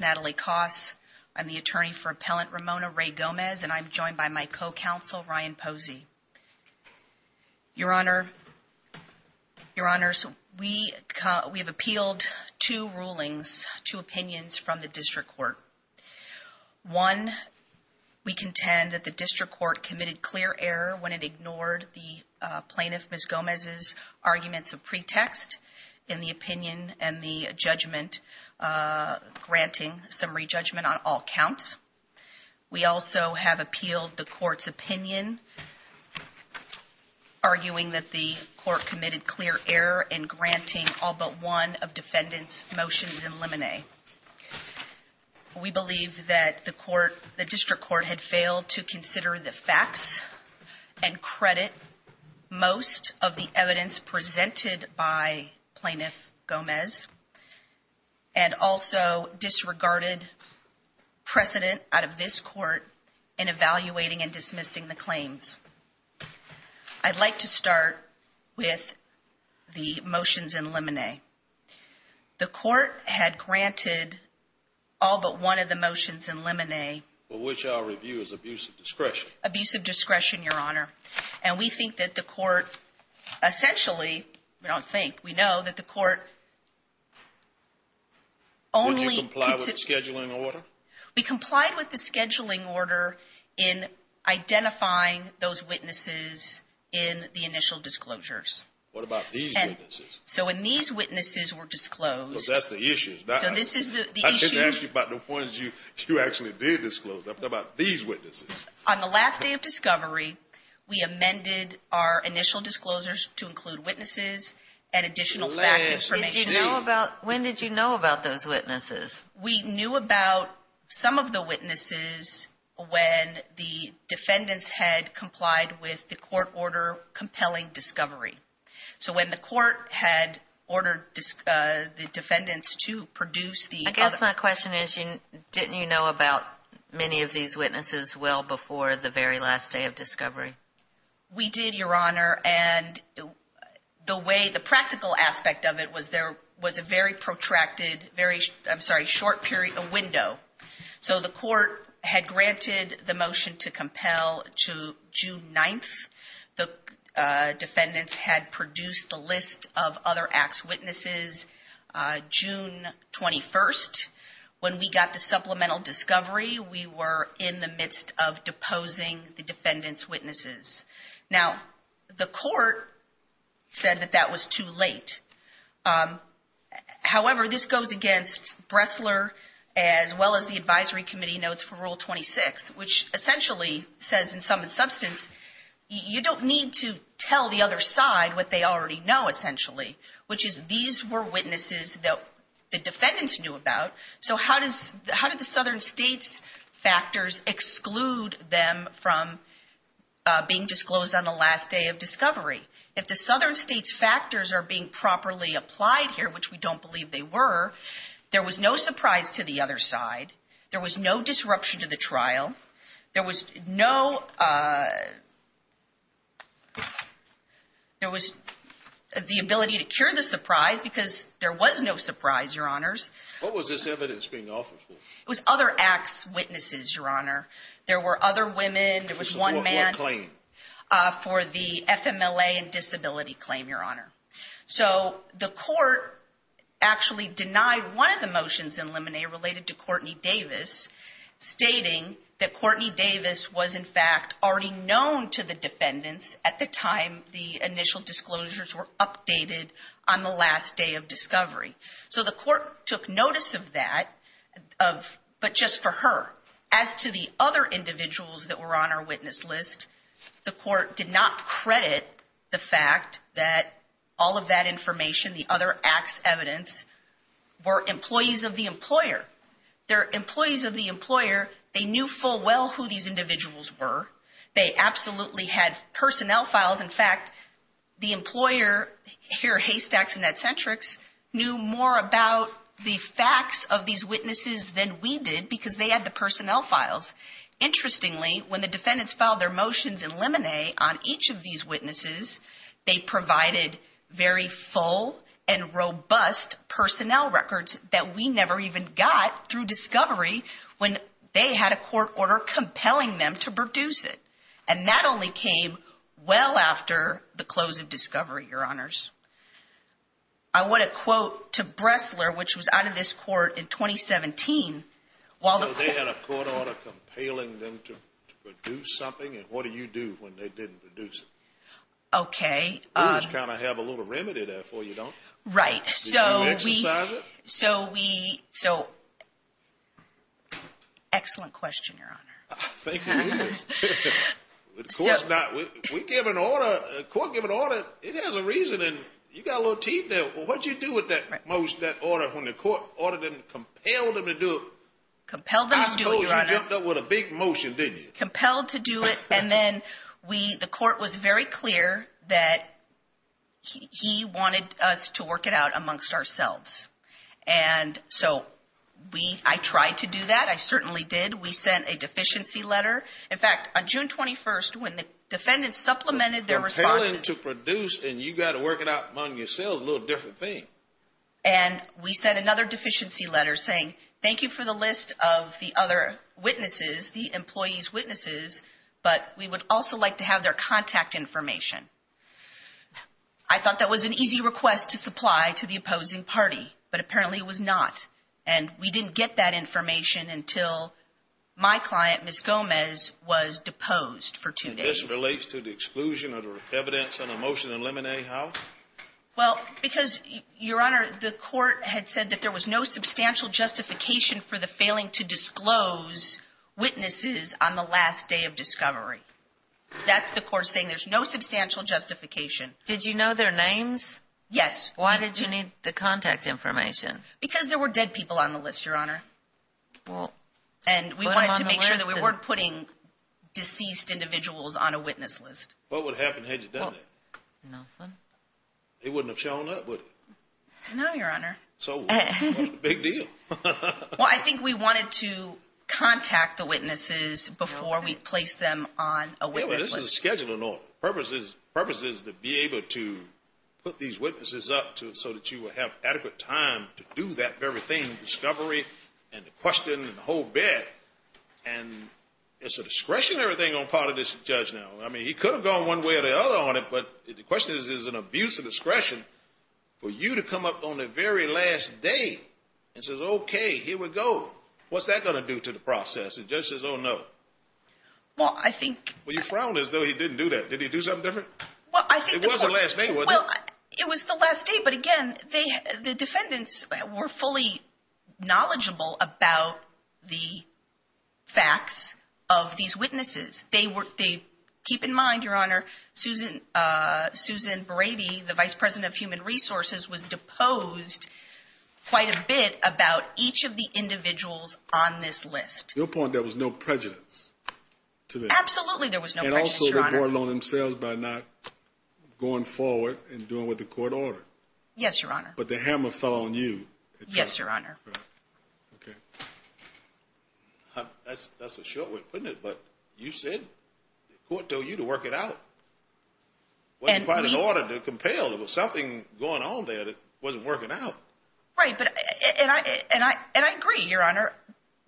Natalie Koss, Attorney for Appellant Ramona Rae Gomez, and I'm joined by my co-counsel Ryan Posey. Your Honor, Your Honors, we have appealed two rulings, two opinions from the district court. One, we contend that the district court committed clear error when it ignored the plaintiff, Ms. Gomez's, arguments of pretext in the opinion and the judgment, granting summary judgment on all counts. We also have appealed the court's opinion, arguing that the court committed clear error in granting all but one of defendants' motions in limine. We believe that the court, the district court, had failed to consider the facts and credit Most of the evidence presented by Plaintiff Gomez and also disregarded precedent out of this court in evaluating and dismissing the claims. I'd like to start with the motions in limine. The court had granted all but one of the motions in limine. Which I'll review as abuse of discretion. Abuse of discretion, Your Honor. And we think that the court, essentially, we don't think, we know that the court only Did you comply with the scheduling order? We complied with the scheduling order in identifying those witnesses in the initial disclosures. What about these witnesses? So when these witnesses were disclosed. Because that's the issue. So this is the issue. I didn't ask you about the ones you actually did disclose. I'm talking about these witnesses. On the last day of discovery, we amended our initial disclosures to include witnesses and additional fact information. When did you know about those witnesses? We knew about some of the witnesses when the defendants had complied with the court order compelling discovery. So when the court had ordered the defendants to produce the I guess my question is, didn't you know about many of these witnesses well before the very last day of discovery? We did, Your Honor. And the way, the practical aspect of it was there was a very protracted, very, I'm sorry, short period, a window. So the court had granted the motion to compel to June 9th. The defendants had produced a list of other acts witnesses June 21st. When we got the supplemental discovery, we were in the midst of deposing the defendants' witnesses. Now, the court said that that was too late. However, this goes against Bressler as well as the advisory committee notes for Rule 26, which essentially says in some substance, you don't need to tell the other side what they already know essentially, which is these were witnesses that the defendants knew about. So how did the Southern States factors exclude them from being disclosed on the last day of discovery? If the Southern States factors are being properly applied here, which we don't believe they were, there was no surprise to the other side. There was no disruption to the trial. There was no, there was the ability to cure the surprise because there was no surprise, Your Honors. What was this evidence being offered for? It was other acts witnesses, Your Honor. There were other women. There was one man. This was for what claim? For the FMLA and disability claim, Your Honor. So the court actually denied one of the motions in Lemonnier related to Courtney Davis, stating that Courtney Davis was in fact already known to the defendants at the time the initial disclosures were updated on the last day of discovery. So the court took notice of that, but just for her. As to the other individuals that were on our witness list, the court did not credit the All of that information, the other acts evidence, were employees of the employer. Their employees of the employer, they knew full well who these individuals were. They absolutely had personnel files. In fact, the employer here, Haystacks and Eccentrics, knew more about the facts of these witnesses than we did because they had the personnel files. Interestingly, when the defendants filed their motions in Lemonnier on each of these witnesses, they provided very full and robust personnel records that we never even got through discovery when they had a court order compelling them to produce it. And that only came well after the close of discovery, Your Honors. I want to quote to Bressler, which was out of this court in 2017, while they had a court order compelling them to produce something, and what do you do when they didn't produce it? Okay. We just kind of have a little remedy there for you, don't we? Right. So we exercise it? So we... So... Excellent question, Your Honor. Thank you. The court's not... We give an order, a court give an order, it has a reason, and you got a little teeth there. Well, what'd you do with that order when the court ordered them, compelled them to do it? Compelled them to do it, Your Honor. I suppose you jumped up with a big motion, didn't you? Compelled to do it, and then we, the court was very clear that he wanted us to work it out amongst ourselves. And so we, I tried to do that, I certainly did. We sent a deficiency letter. In fact, on June 21st, when the defendants supplemented their responses... Compelling to produce, and you got to work it out among yourselves, a little different thing. And we sent another deficiency letter saying, thank you for the list of the other witnesses, the employee's witnesses, but we would also like to have their contact information. I thought that was an easy request to supply to the opposing party, but apparently it was not, and we didn't get that information until my client, Ms. Gomez, was deposed for two days. And this relates to the exclusion of the evidence on a motion in Lemonade House? Well, because, Your Honor, the court had said that there was no substantial justification for the failing to disclose witnesses on the last day of discovery. That's the court saying there's no substantial justification. Did you know their names? Yes. Why did you need the contact information? Because there were dead people on the list, Your Honor. And we wanted to make sure that we weren't putting deceased individuals on a witness list. What would have happened had you done that? Nothing. It wouldn't have shown up, would it? No, Your Honor. So what's the big deal? Well, I think we wanted to contact the witnesses before we placed them on a witness list. Yeah, but this is a scheduling order. The purpose is to be able to put these witnesses up so that you will have adequate time to do that very thing, discovery, and the question, and the whole bit. And it's a discretionary thing on the part of this judge now. I mean, he could have gone one way or the other on it, but the question is, is it an abuse of discretion for you to come up on the very last day and says, okay, here we go. What's that going to do to the process? The judge says, oh, no. Well, I think... Well, you frowned as though he didn't do that. Did he do something different? Well, I think the court... It was the last day, wasn't it? Well, it was the last day, but again, the defendants were fully knowledgeable about the facts of these witnesses. Keep in mind, Your Honor, Susan Brady, the Vice President of Human Resources, was deposed quite a bit about each of the individuals on this list. To your point, there was no prejudice to this? Absolutely there was no prejudice, Your Honor. And also, they brought it on themselves by not going forward and doing what the court ordered. Yes, Your Honor. But the hammer fell on you. Yes, Your Honor. Okay. That's a short way of putting it, but you said the court told you to work it out. It wasn't quite an order to compel. There was something going on there that wasn't working out. Right, and I agree, Your Honor.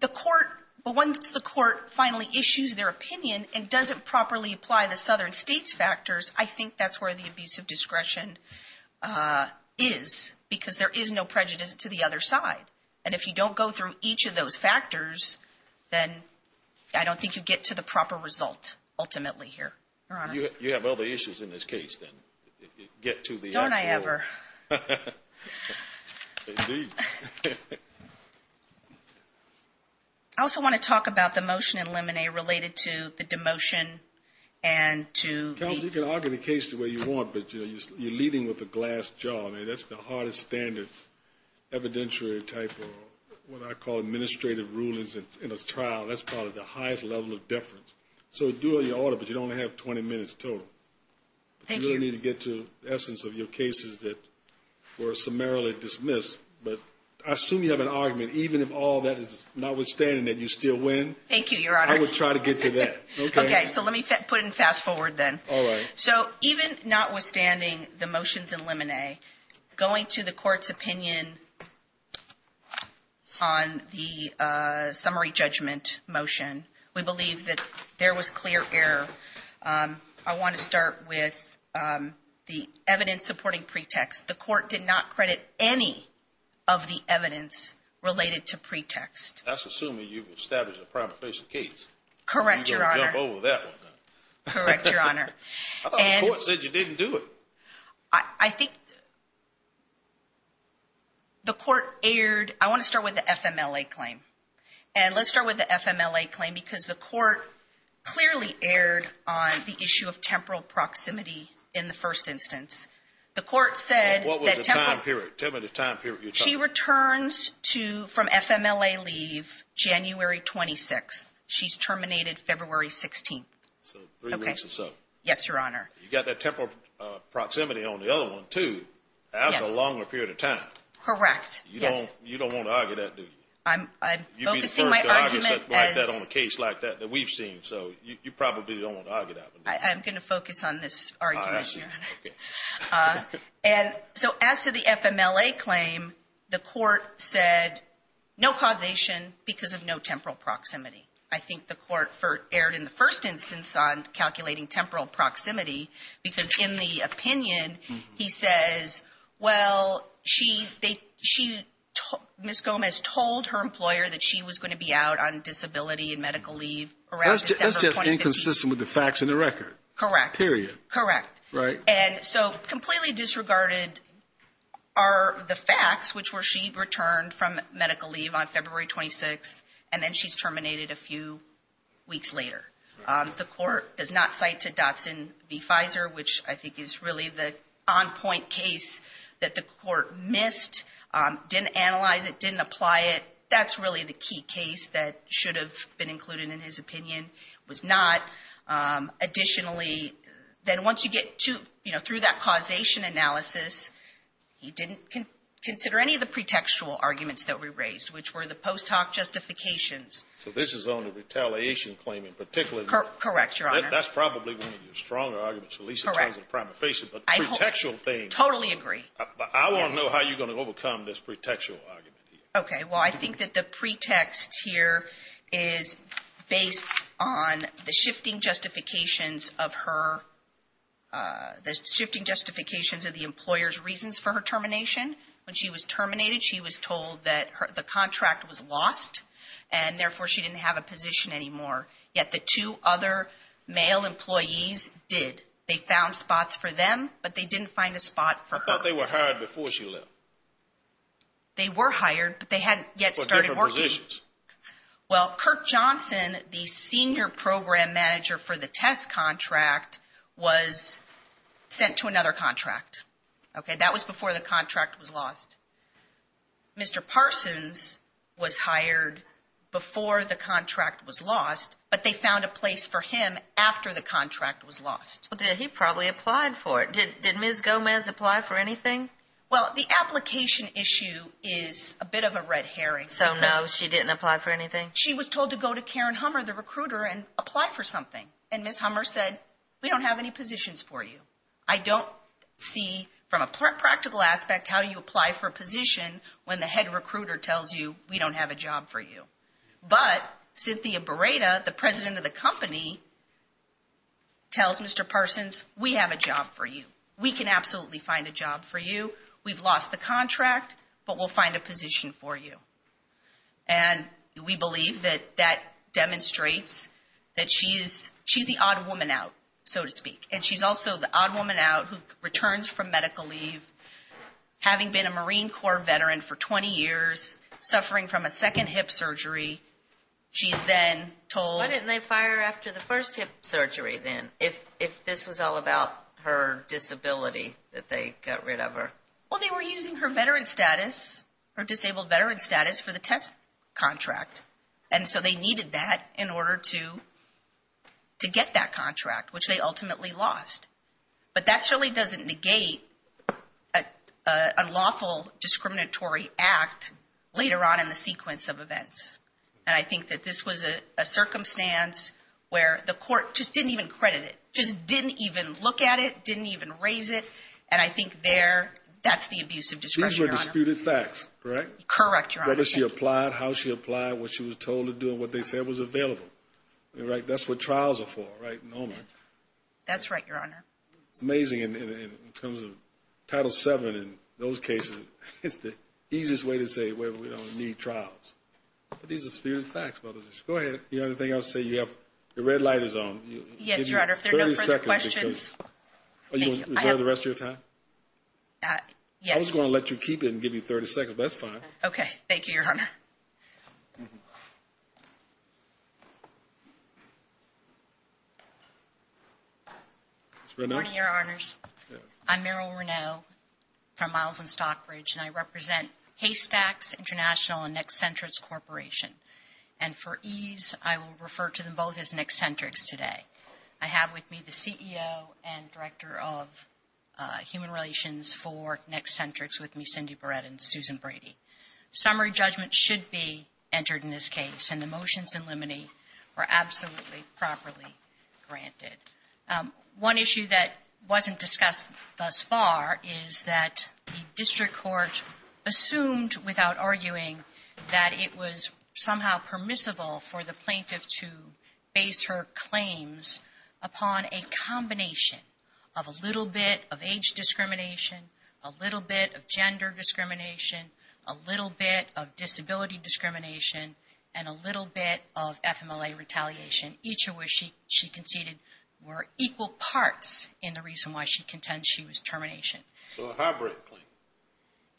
The court... But once the court finally issues their opinion and doesn't properly apply the southern states factors, I think that's where the abuse of discretion is, because there is no prejudice to the other side. And if you don't go through each of those factors, then I don't think you get to the proper result, ultimately, here. Your Honor. You have other issues in this case, then, get to the actual... Don't I ever. Indeed. I also want to talk about the motion in Lemonnier related to the demotion and to... Counsel, you can argue the case the way you want, but you're leading with a glass jaw. I mean, that's the hardest standard evidentiary type of what I call administrative rulings in a trial. That's probably the highest level of deference. So, do what you ought to, but you don't have 20 minutes total. Thank you. You really need to get to the essence of your cases that were summarily dismissed, but I assume you have an argument, even if all that is notwithstanding, that you still win. Thank you, Your Honor. I would try to get to that. Okay. Okay, so let me put it in fast forward, then. All right. So, even notwithstanding the motions in Lemonnier, going to the court's opinion on the summary judgment motion, we believe that there was clear error. I want to start with the evidence supporting pretext. The court did not credit any of the evidence related to pretext. That's assuming you've established a prima facie case. Correct, Your Honor. You don't jump over that one, then. Correct, Your Honor. I thought the court said you didn't do it. I think the court erred. I want to start with the FMLA claim, and let's start with the FMLA claim, because the court clearly erred on the issue of temporal proximity in the first instance. What was the time period? Tell me the time period you're talking about. She returns from FMLA leave January 26th. She's terminated February 16th. So, three weeks or so. Yes, Your Honor. You've got that temporal proximity on the other one, too. That's a longer period of time. Correct, yes. You don't want to argue that, do you? You'd be the first to argue something like that on a case like that that we've seen, so you probably don't want to argue that one, do you? I'm going to focus on this argument, Your Honor. So, as to the FMLA claim, the court said no causation because of no temporal proximity. I think the court erred in the first instance on calculating temporal proximity, because in the opinion, he says, well, Ms. Gomez told her employer that she was going to be out on disability and medical leave around December 2015. That's just inconsistent with the facts and the record. Correct. Period. Correct. Right. And so, completely disregarded are the facts, which were she returned from medical leave on February 26th, and then she's terminated a few weeks later. The court does not cite to Dotson v. Pfizer, which I think is really the on-point case that the court missed, didn't analyze it, didn't apply it. That's really the key case that should have been included in his opinion, was not. Additionally, then once you get to, you know, through that causation analysis, he didn't consider any of the pretextual arguments that we raised, which were the post hoc justifications. So this is on the retaliation claim in particular. Correct, Your Honor. That's probably one of your stronger arguments, at least in terms of the prima facie. Correct. But the pretextual thing. Totally agree. I want to know how you're going to overcome this pretextual argument here. Okay. When she was terminated, she was told that the contract was lost, and therefore she didn't have a position anymore. Yet the two other male employees did. They found spots for them, but they didn't find a spot for her. I thought they were hired before she left. They were hired, but they hadn't yet started working. For different positions. Well, Kirk Johnson, the senior program manager for the test contract, was sent to another contract. That was before the contract was lost. Mr. Parsons was hired before the contract was lost, but they found a place for him after the contract was lost. He probably applied for it. Did Ms. Gomez apply for anything? Well, the application issue is a bit of a red herring. So no, she didn't apply for anything? She was told to go to Karen Hummer, the recruiter, and apply for something. And Ms. Hummer said, we don't have any positions for you. I don't see, from a practical aspect, how you apply for a position when the head recruiter tells you, we don't have a job for you. But, Cynthia Barreda, the president of the company, tells Mr. Parsons, we have a job for you. We can absolutely find a job for you. We've lost the contract, but we'll find a position for you. And we believe that that demonstrates that she's the odd woman out, so to speak. And she's also the odd woman out who returns from medical leave, having been a Marine Corps veteran for 20 years, suffering from a second hip surgery. She's then told... Why didn't they fire her after the first hip surgery then, if this was all about her disability, that they got rid of her? Well, they were using her veteran status, her disabled veteran status, for the test contract. And so they needed that in order to get that contract, which they ultimately lost. But that certainly doesn't negate an unlawful discriminatory act later on in the sequence of events. And I think that this was a circumstance where the court just didn't even credit it, just didn't even look at it, didn't even raise it. And I think there, that's the abuse of discretion, Your Honor. These were disputed facts, correct? Correct, Your Honor. Whether she applied, how she applied, what she was told to do, and what they said was available. That's what trials are for, right? That's right, Your Honor. It's amazing. In terms of Title VII, in those cases, it's the easiest way to say, well, we don't need trials. But these are disputed facts. Go ahead. You have anything else to say? You have... The red light is on. Yes, Your Honor. If there are no further questions... Are you going to reserve the rest of your time? Yes. I was going to let you keep it and give you 30 seconds, but that's fine. Okay. Thank you, Your Honor. Ms. Reneau? Good morning, Your Honors. I'm Meryl Reneau from Miles and Stockbridge, and I represent Haystacks International and Nexcentrics Corporation. And for ease, I will refer to them both as Nexcentrics today. I have with me the CEO and Director of Human Relations for Nexcentrics with me, Cindy Barrett and Susan Brady. Summary judgment should be entered in this case, and the motions in limine were absolutely properly granted. One issue that wasn't discussed thus far is that the district court assumed, without arguing, that it was somehow permissible for the plaintiff to base her claims upon a combination of a little bit of gender discrimination, a little bit of disability discrimination, and a little bit of FMLA retaliation. Each of which she conceded were equal parts in the reason why she contends she was termination. So a hybrid claim?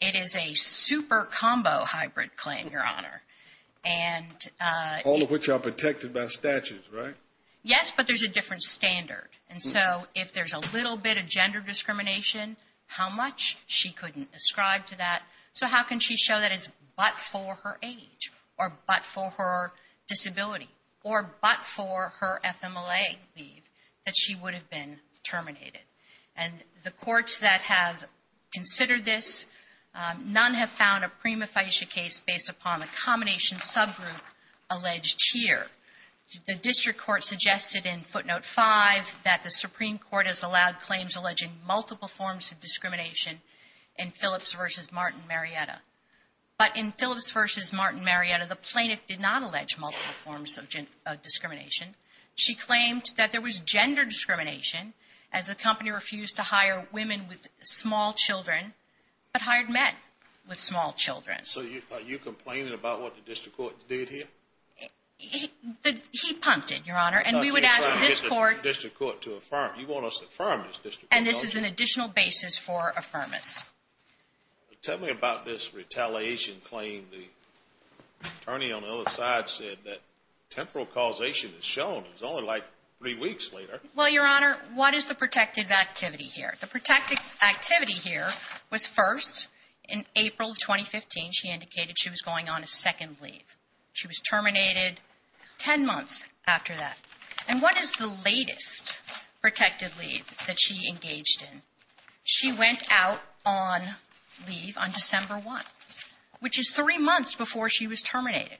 It is a super combo hybrid claim, Your Honor. All of which are protected by statutes, right? Yes, but there's a different standard. And so if there's a little bit of gender discrimination, how much? She couldn't ascribe to that. So how can she show that it's but for her age, or but for her disability, or but for her FMLA leave that she would have been terminated? And the courts that have considered this, none have found a prima facie case based upon a combination subgroup alleged here. The district court suggested in footnote five that the Supreme Court has allowed claims alleging multiple forms of discrimination in Phillips v. Martin Marietta. But in Phillips v. Martin Marietta, the plaintiff did not allege multiple forms of discrimination. She claimed that there was gender discrimination as the company refused to hire women with small children, but hired men with small children. So are you complaining about what the district court did here? He pumped it, Your Honor. And we would ask this court. You're trying to get the district court to affirm. You want us to affirm this district court. And this is an additional basis for affirmance. Tell me about this retaliation claim. The attorney on the other side said that temporal causation is shown. It's only like three weeks later. Well, Your Honor, what is the protective activity here? The protective activity here was first in April of 2015. She indicated she was going on a second leave. She was terminated 10 months after that. And what is the latest protective leave that she engaged in? She went out on leave on December 1, which is three months before she was terminated.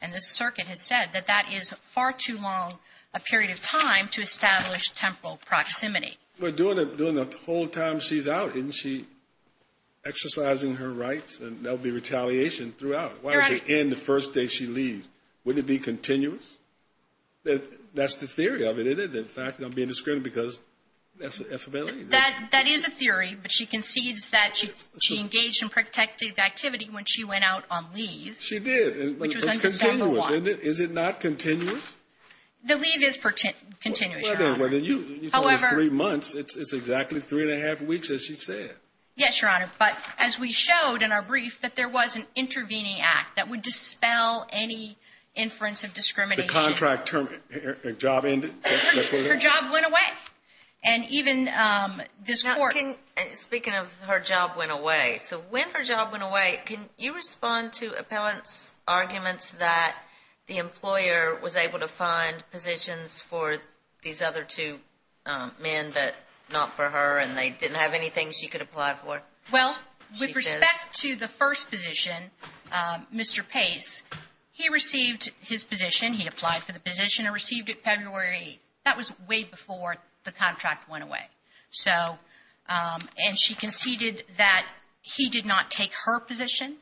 And the circuit has said that that is far too long a period of time to establish temporal proximity. But during the whole time she's out, isn't she exercising her rights? And there will be retaliation throughout. Why does she end the first day she leaves? Wouldn't it be continuous? That's the theory of it, isn't it? In fact, I'm being discreet because that's the affidavit. That is a theory. But she concedes that she engaged in protective activity when she went out on leave. She did. Which was on December 1. Is it not continuous? The leave is continuous, Your Honor. Well, then you told us three months. It's exactly three and a half weeks, as she said. Yes, Your Honor. But as we showed in our brief, that there was an intervening act that would dispel any inference of discrimination. The contract term, her job ended? Her job went away. And even this court... Speaking of her job went away, so when her job went away, can you respond to appellants' arguments that the employer was able to find positions for these other two men but not for her and they didn't have anything she could apply for? Well, with respect to the first position, Mr. Pace, he received his position. He applied for the position and received it February 8th. That was way before the contract went away. So, and she conceded that he did not take her position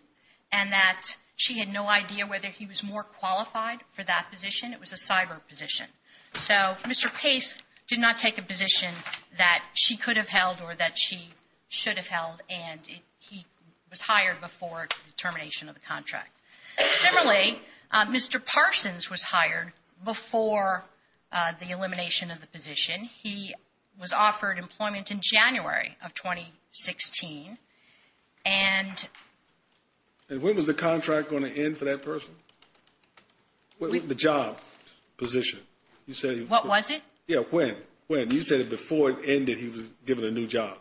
and that she had no idea whether he was more qualified for that position. It was a cyber position. So, Mr. Pace did not take a position that she could have held or that she should have held and he was hired before the termination of the contract. Similarly, Mr. Parsons was hired before the elimination of the position. He was offered employment in January of 2016 and... And when was the contract going to end for that person? The job position. You said... What was it? Yeah, when? You said before it ended he was given a new job.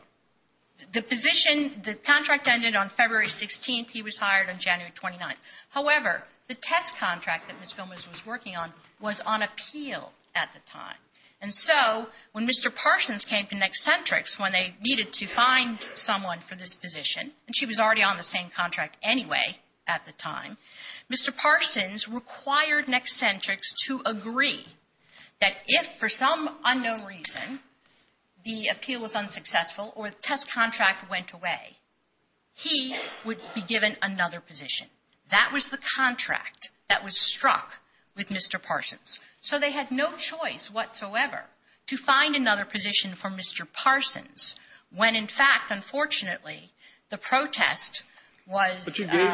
The position, the contract ended on February 16th. He was hired on January 29th. However, the test contract that Ms. Gomez was working on was on appeal at the time. And so, when Mr. Parsons came to Nexcentrics when they needed to find someone for this position and she was already on the same contract anyway at the time, Mr. Parsons required Nexcentrics to agree that if for some unknown reason the appeal was unsuccessful or the test contract went away, he would be given another position. That was the contract that was struck with Mr. Parsons. So they had no choice whatsoever to find another position for Mr. Parsons when, in fact, unfortunately, the protest was... Excuse me? You gave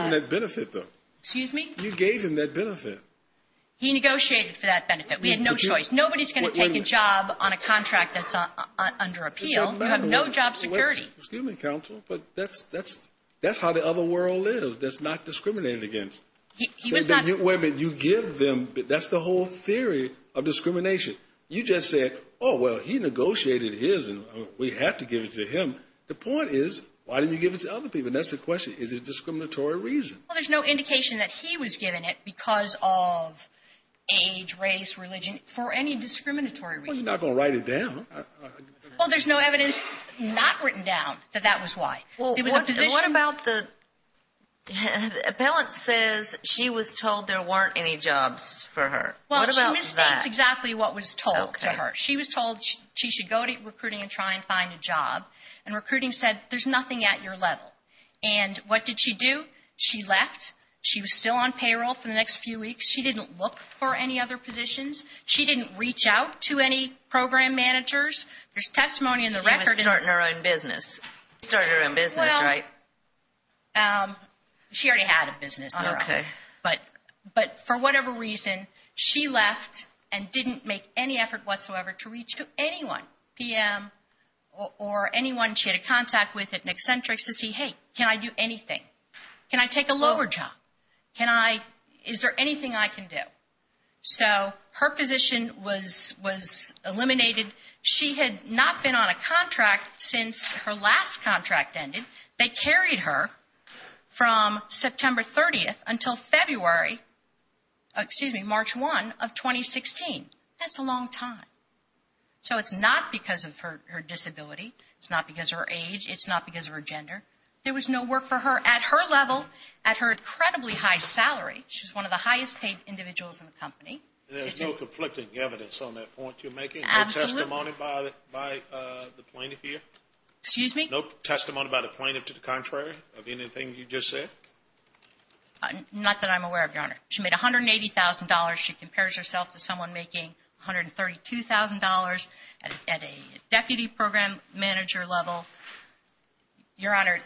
him that benefit. He negotiated for that benefit. We had no choice. Nobody's going to take a job on a contract that's under appeal. You have no job security. Excuse me, counsel, but that's how the other world lives. That's not discriminated against. He was not... Wait a minute. You give them... That's the whole theory of discrimination. You just said, oh, well, he negotiated his and we have to give it to him. The point is, why didn't you give it to other people? That's the question. Is it a discriminatory reason? Well, there's no indication that he was given it because of age, race, religion, for any discriminatory reason. Well, he's not going to write it down. Well, there's no evidence not written down that that was why. Well, what about the... The appellant says she was told there weren't any jobs for her. What about that? Well, she misstates exactly what was told to her. She was told she should go to recruiting and try and find a job. And recruiting said, there's nothing at your level. And what did she do? She left. She was still on payroll for the next few weeks. She didn't look for any other positions. She didn't reach out to any program managers. There's testimony in the record... She was starting her own business. She started her own business, right? Well, she already had a business of her own. Okay. But for whatever reason, she left and didn't make any effort whatsoever to reach to anyone, PM, or anyone she had a contact with in Eccentrics to see, hey, can I do anything? Can I take a lower job? Can I... Is there anything I can do? So her position was eliminated. She had not been on a contract since her last contract ended. They carried her from September 30th until February... Excuse me, March 1 of 2016. That's a long time. So it's not because of her disability. It's not because of her age. It's not because of her gender. There was no work for her at her level, at her incredibly high salary. She's one of the highest paid individuals in the company. There's no conflicting evidence on that point you're making? Absolutely. No testimony by the plaintiff here? Excuse me? No testimony by the plaintiff to the contrary of anything you just said? Not that I'm aware of, Your Honor. She made $180,000. She compares herself to someone making $132,000 at a deputy program manager level. Your Honor,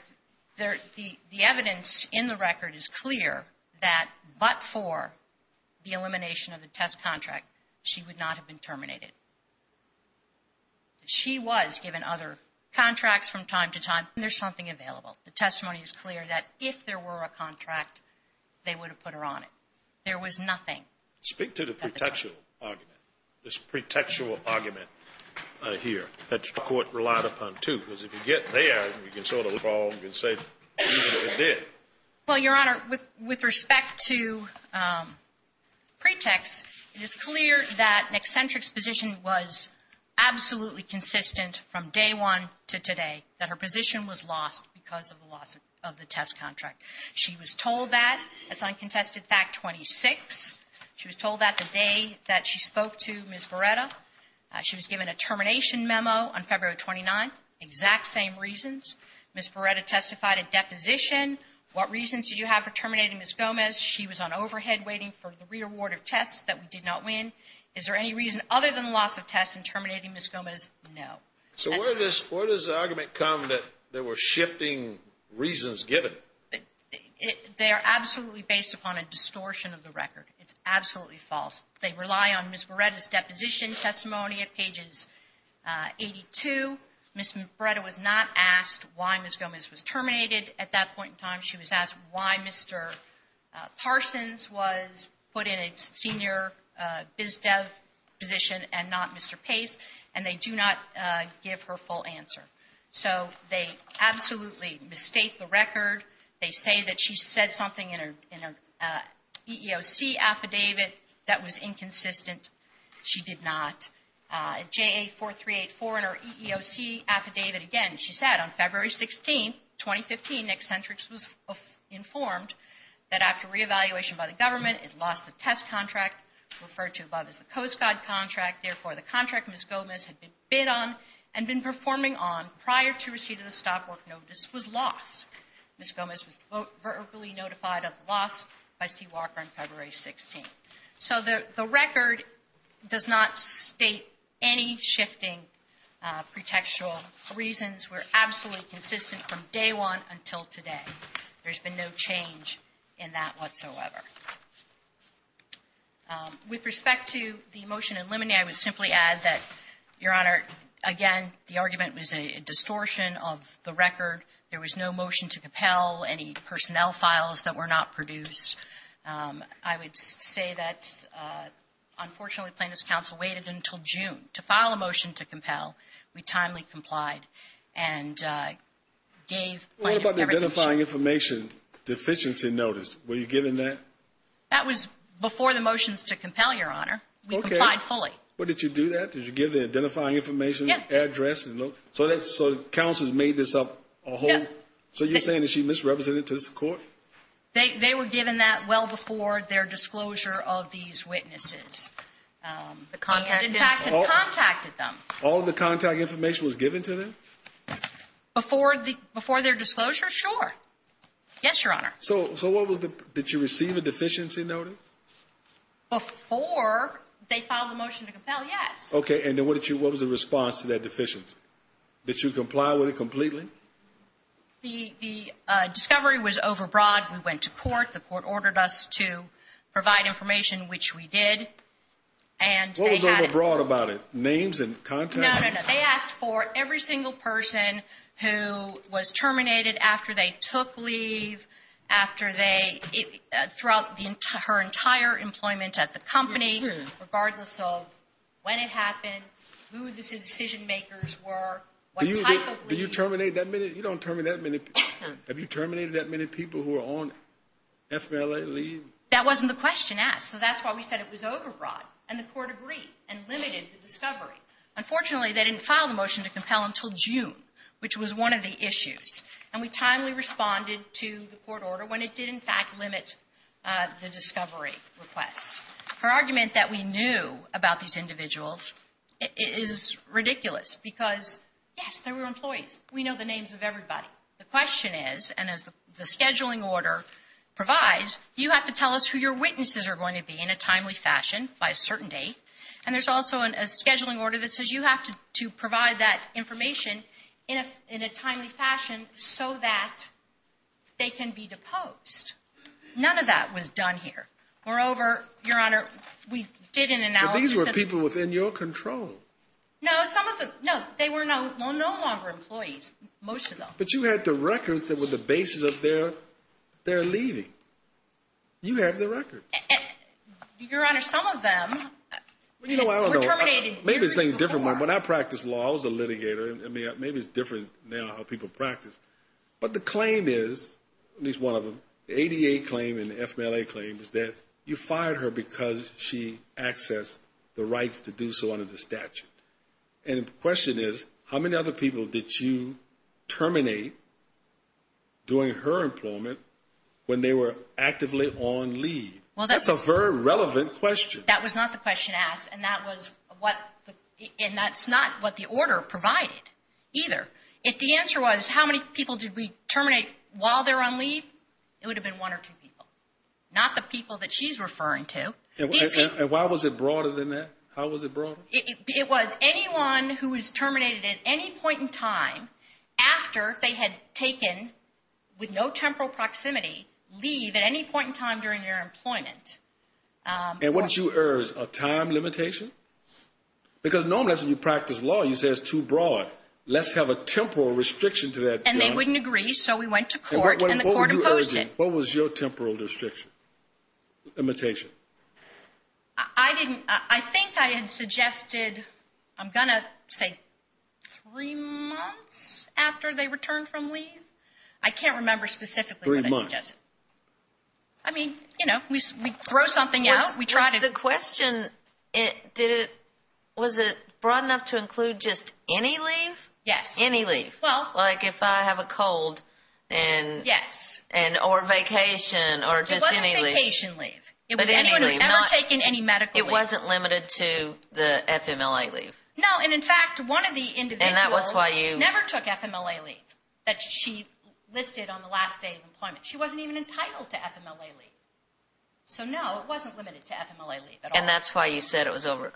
the evidence in the record is clear that but for the elimination of the test contract, she would not have been terminated. She was given other contracts from time to time. There's something available. The testimony is clear that if there were a contract, they would have put her on it. There was nothing. Speak to the pretextual argument. This pretextual argument here that the Court relied upon, too. Because if you get there, you can sort of evolve and say even if it did. Well, Your Honor, with respect to pretext, it is clear that McCentric's position was absolutely consistent from day one to today, that her position was lost because of the loss of the test contract. She was told that. That's on contested fact 26. She was told that the day that she spoke to Ms. Barretta. She was given a termination memo on February 29. Exact same reasons. Ms. Barretta testified a deposition. What reasons did you have for terminating Ms. Gomez? She was on overhead waiting for the reaward of tests that we did not win. Is there any reason other than the loss of tests in terminating Ms. Gomez? No. So where does the argument come that there were shifting reasons given? They are absolutely based upon a distortion of the record. It's absolutely false. They rely on Ms. Barretta's deposition testimony at pages 82. Ms. Barretta was not asked why Ms. Gomez was terminated at that point in time. She was asked why Mr. Parsons was put in a senior biz dev position and not Mr. Pace. And they do not give her full answer. So they absolutely mistake the record. They say that she said something in her EEOC affidavit that was inconsistent. She did not. At JA 4384 in her EEOC affidavit, again, she said on February 16, 2015, Eccentrics was informed that after reevaluation by the government, it lost the test contract referred to above as the Coast Guard contract. Therefore, the contract Ms. Gomez had bid on and been performing on prior to receipt of the stop work notice was lost. Ms. Gomez was verbally notified of the loss by Steve Walker on February 16. So the record does not state any shifting pretextual reasons. We're absolutely consistent from day one until today. There's been no change in that whatsoever. With respect to the motion in limine, I would simply add that, Your Honor, again, the argument was a distortion of the record. There was no motion to compel, any personnel files that were not produced. I would say that, unfortunately, plaintiff's counsel waited until June to file a motion to compel. We timely complied and gave everything. The identifying information deficiency notice, were you given that? That was before the motions to compel, Your Honor. We complied fully. But did you do that? Did you give the identifying information address? Yes. So counsel made this up a whole? Yes. So you're saying that she misrepresented it to the court? They were given that well before their disclosure of these witnesses. And in fact, had contacted them. All of the contact information was given to them? Before their disclosure, sure. Yes, Your Honor. So did you receive a deficiency notice? Before they filed the motion to compel, yes. Okay, and what was the response to that deficiency? Did you comply with it completely? The discovery was overbroad. We went to court. The court ordered us to provide information, which we did. What was overbroad about it? Names and contacts? They asked for every single person who was terminated after they took leave, after they, throughout her entire employment at the company, regardless of when it happened, who the decision makers were, what type of leave. Did you terminate that many? You don't terminate that many. Have you terminated that many people who are on FMLA leave? That wasn't the question asked. So that's why we said it was overbroad. And the court agreed and limited the discovery. Unfortunately, they didn't file the motion to compel until June, which was one of the issues. And we timely responded to the court order when it did in fact limit the discovery requests. Her argument that we knew about these individuals is ridiculous because, yes, they were employees. We know the names of everybody. The question is, and as the scheduling order provides, you have to tell us who your witnesses are going to be in a timely fashion by a certain date. And there's also a scheduling order that says you have to provide that information in a timely fashion so that they can be deposed. None of that was done here. Moreover, Your Honor, we did an analysis. So these were people within your control. No, some of them, no. They were no longer employees, most of them. But you had the records that were the basis of their leaving. You have the records. Your Honor, some of them were terminated years before. Maybe it's a different one. When I practiced law, I was a litigator. Maybe it's different now how people practice. But the claim is, at least one of them, the ADA claim and the FMLA claim, is that you fired her because she accessed the rights to do so under the statute. And the question is, how many other people did you terminate during her employment when they were actively on leave? That's a very relevant question. That was not the question asked, and that's not what the order provided either. If the answer was, how many people did we terminate while they were on leave, it would have been one or two people, not the people that she's referring to. And why was it broader than that? How was it broader? It was anyone who was terminated at any point in time after they had taken, with no temporal proximity, leave at any point in time during their employment. And what did you urge? A time limitation? Because normally when you practice law, you say it's too broad. Let's have a temporal restriction to that. And they wouldn't agree, so we went to court, and the court opposed it. What were you urging? What was your temporal limitation? I think I had suggested, I'm going to say three months after they returned from leave. I can't remember specifically what I suggested. Three months. I mean, you know, we throw something out. The question, was it broad enough to include just any leave? Yes. Any leave? Like if I have a cold, or vacation, or just any leave? It wasn't vacation leave. It was anyone who had ever taken any medical leave. It wasn't limited to the FMLA leave? No, and in fact, one of the individuals never took FMLA leave. That she listed on the last day of employment. She wasn't even entitled to FMLA leave. So no, it wasn't limited to FMLA leave at all. And that's why you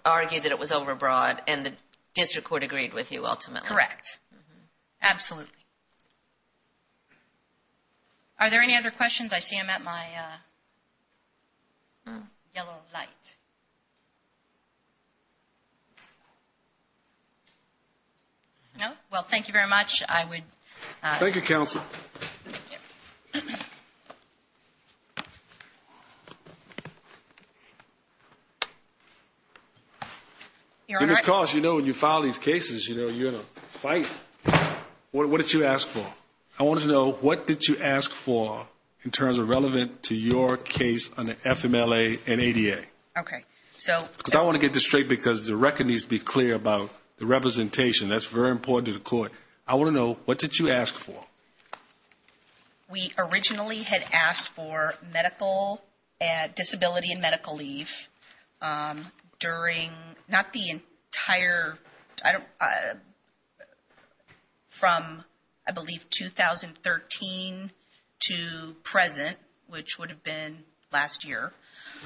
argued that it was overbroad, and the district court agreed with you ultimately. Correct. Absolutely. Are there any other questions? I see them at my yellow light. No? Well, thank you very much. I would... Thank you, Counsel. Your Honor... Because, you know, when you file these cases, you know, you're in a fight. What did you ask for? I wanted to know, what did you ask for in terms of relevant to your case on the FMLA and ADA? Okay. So... Because I want to get this straight, because the record needs to be clear about the representation. That's very important to the court. I want to know, what did you ask for? We originally had asked for medical... Disability and medical leave during... Not the entire... I don't... From, I believe, 2013 to present, which would have been last year.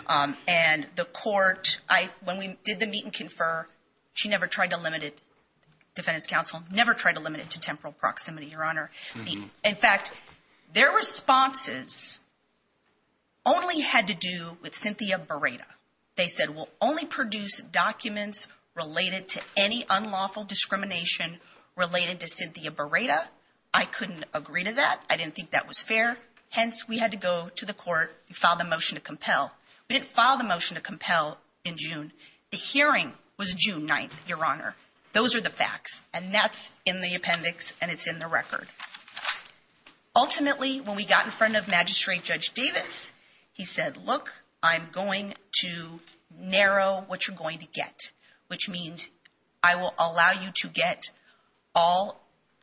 And the court... When we did the meet and confer, she never tried to limit it. Defendant's counsel never tried to limit it to temporal proximity, Your Honor. In fact, their responses only had to do with Cynthia Barreda. They said, we'll only produce documents related to any unlawful discrimination related to Cynthia Barreda. I couldn't agree to that. I didn't think that was fair. Hence, we had to go to the court and file the motion to compel. We didn't file the motion to compel in June. The hearing was June 9th, Your Honor. Those are the facts. And that's in the appendix, and it's in the record. Ultimately, when we got in front of Magistrate Judge Davis, he said, look, I'm going to narrow what you're going to get. Which means, I will allow you to get all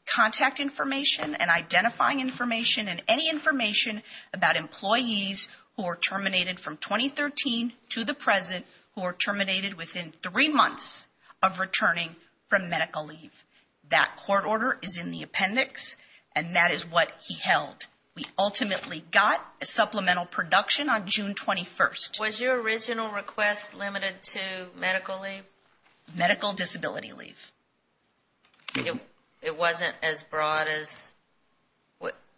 contact information and identifying information and any information about employees who are terminated from 2013 to the present who are terminated within three months of returning from medical leave. That court order is in the appendix, and that is what he held. We ultimately got a supplemental production on June 21st. Was your original request limited to medical leave? Medical disability leave. It wasn't as broad as...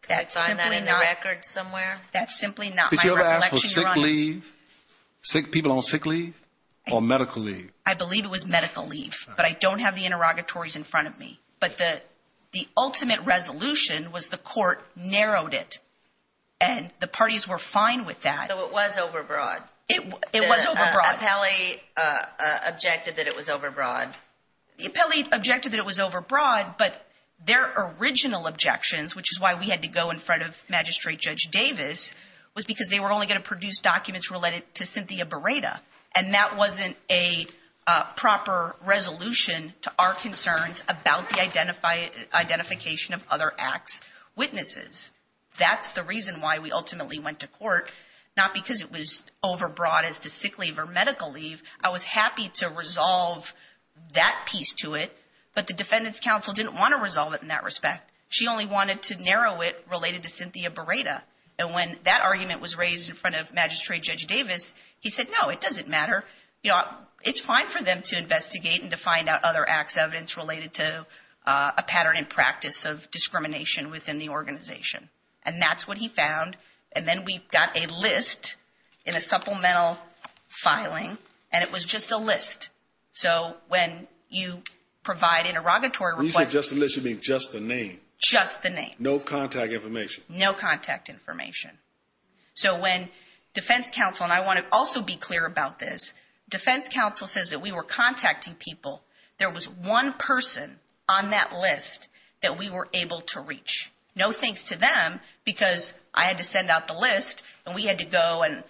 Can you find that in the record somewhere? That's simply not my recollection, Your Honor. Sick people on sick leave or medical leave? I believe it was medical leave, but I don't have the interrogatories in front of me. But the ultimate resolution was the court narrowed it, and the parties were fine with that. So it was overbroad? It was overbroad. The appellee objected that it was overbroad? The appellee objected that it was overbroad, but their original objections, which is why we had to go in front of Magistrate Judge Davis, was because they were only going to produce documents related to Cynthia Barreda. And that wasn't a proper resolution to our concerns about the identification of other acts' witnesses. That's the reason why we ultimately went to court, not because it was overbroad as to sick leave or medical leave. I was happy to resolve that piece to it, but the Defendant's Counsel didn't want to resolve it in that respect. She only wanted to narrow it related to Cynthia Barreda. And when that argument was raised in front of Magistrate Judge Davis, he said, no, it doesn't matter. It's fine for them to investigate and to find out other acts' evidence related to a pattern and practice of discrimination within the organization. And that's what he found. And then we got a list in a supplemental filing, and it was just a list. So when you provide interrogatory requests... When you say just a list, you mean just the name? Just the name. No contact information? No contact information. So when Defense Counsel... And I want to also be clear about this. Defense Counsel says that we were contacting people. There was one person on that list that we were able to reach. No thanks to them, because I had to send out the list, and we had to go and...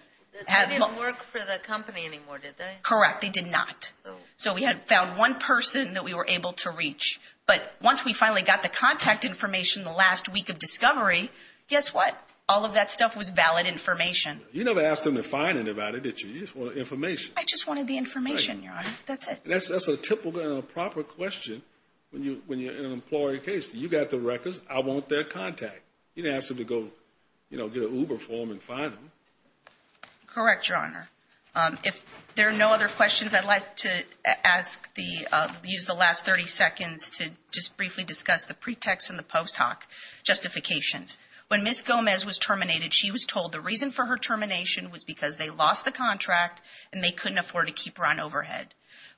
They didn't work for the company anymore, did they? Correct, they did not. So we had found one person that we were able to reach. But once we finally got the contact information the last week of discovery, guess what? All of that stuff was valid information. You never asked them to find anybody, did you? You just wanted information. I just wanted the information, Your Honor. That's it. That's a typical and a proper question when you're in an employee case. You got the records. I want their contact. You didn't ask them to go get an Uber for them and find them. Correct, Your Honor. If there are no other questions, I'd like to use the last 30 seconds to just briefly discuss the pretext and the post hoc justifications. When Ms. Gomez was terminated, she was told the reason for her termination was because they lost the contract, and they couldn't afford to keep her on overhead.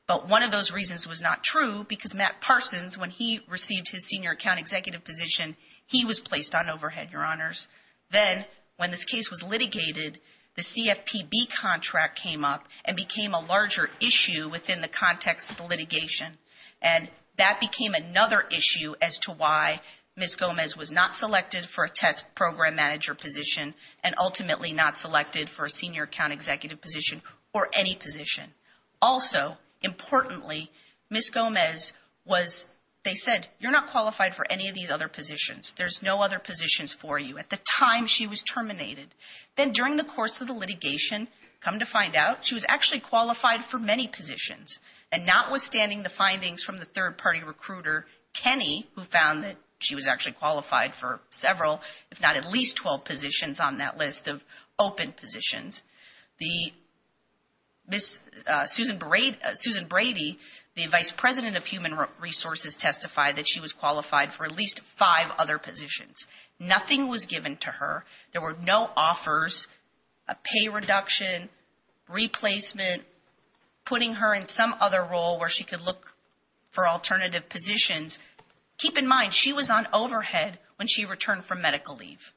But one of those reasons was not true, because Matt Parsons, when he received his senior account executive position, he was placed on overhead, Your Honors. Then when this case was litigated, the CFPB contract came up and became a larger issue within the context of the litigation. And that became another issue as to why Ms. Gomez was not selected for a test program manager position and ultimately not selected for a senior account executive position or any position. Also, importantly, Ms. Gomez was, they said, you're not qualified for any of these other positions. There's no other positions for you. At the time she was terminated. Then during the course of the litigation, come to find out, she was actually qualified for many positions. And notwithstanding the findings from the third-party recruiter, Kenny, who found that she was actually qualified for several, if not at least 12 positions on that list of open positions, Ms. Susan Brady, the vice president of human resources, testified that she was qualified for at least five other positions. Nothing was given to her. There were no offers, a pay reduction, replacement, putting her in some other role where she could look for alternative positions. Keep in mind, she was on overhead when she returned from medical leave.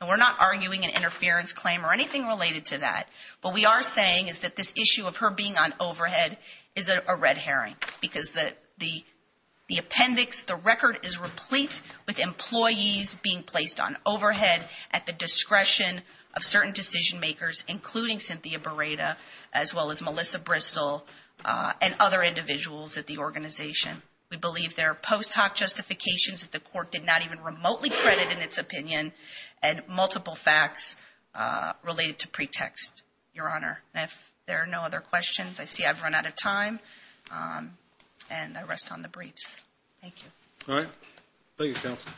And we're not arguing an interference claim or anything related to that. What we are saying is that this issue of her being on overhead is a red herring. Because the appendix, the record is replete with employees being placed on overhead at the discretion of certain decision makers, including Cynthia Barreda, as well as Melissa Bristol, and other individuals at the organization. We believe there are post hoc justifications that the court did not even remotely credit in its opinion, and multiple facts related to pretext, Your Honor. If there are no other questions, I see I've run out of time, and I rest on the briefs. Thank you. All right. Thank you, counsel.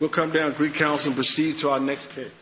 We'll come down to recounsel and proceed to our next case.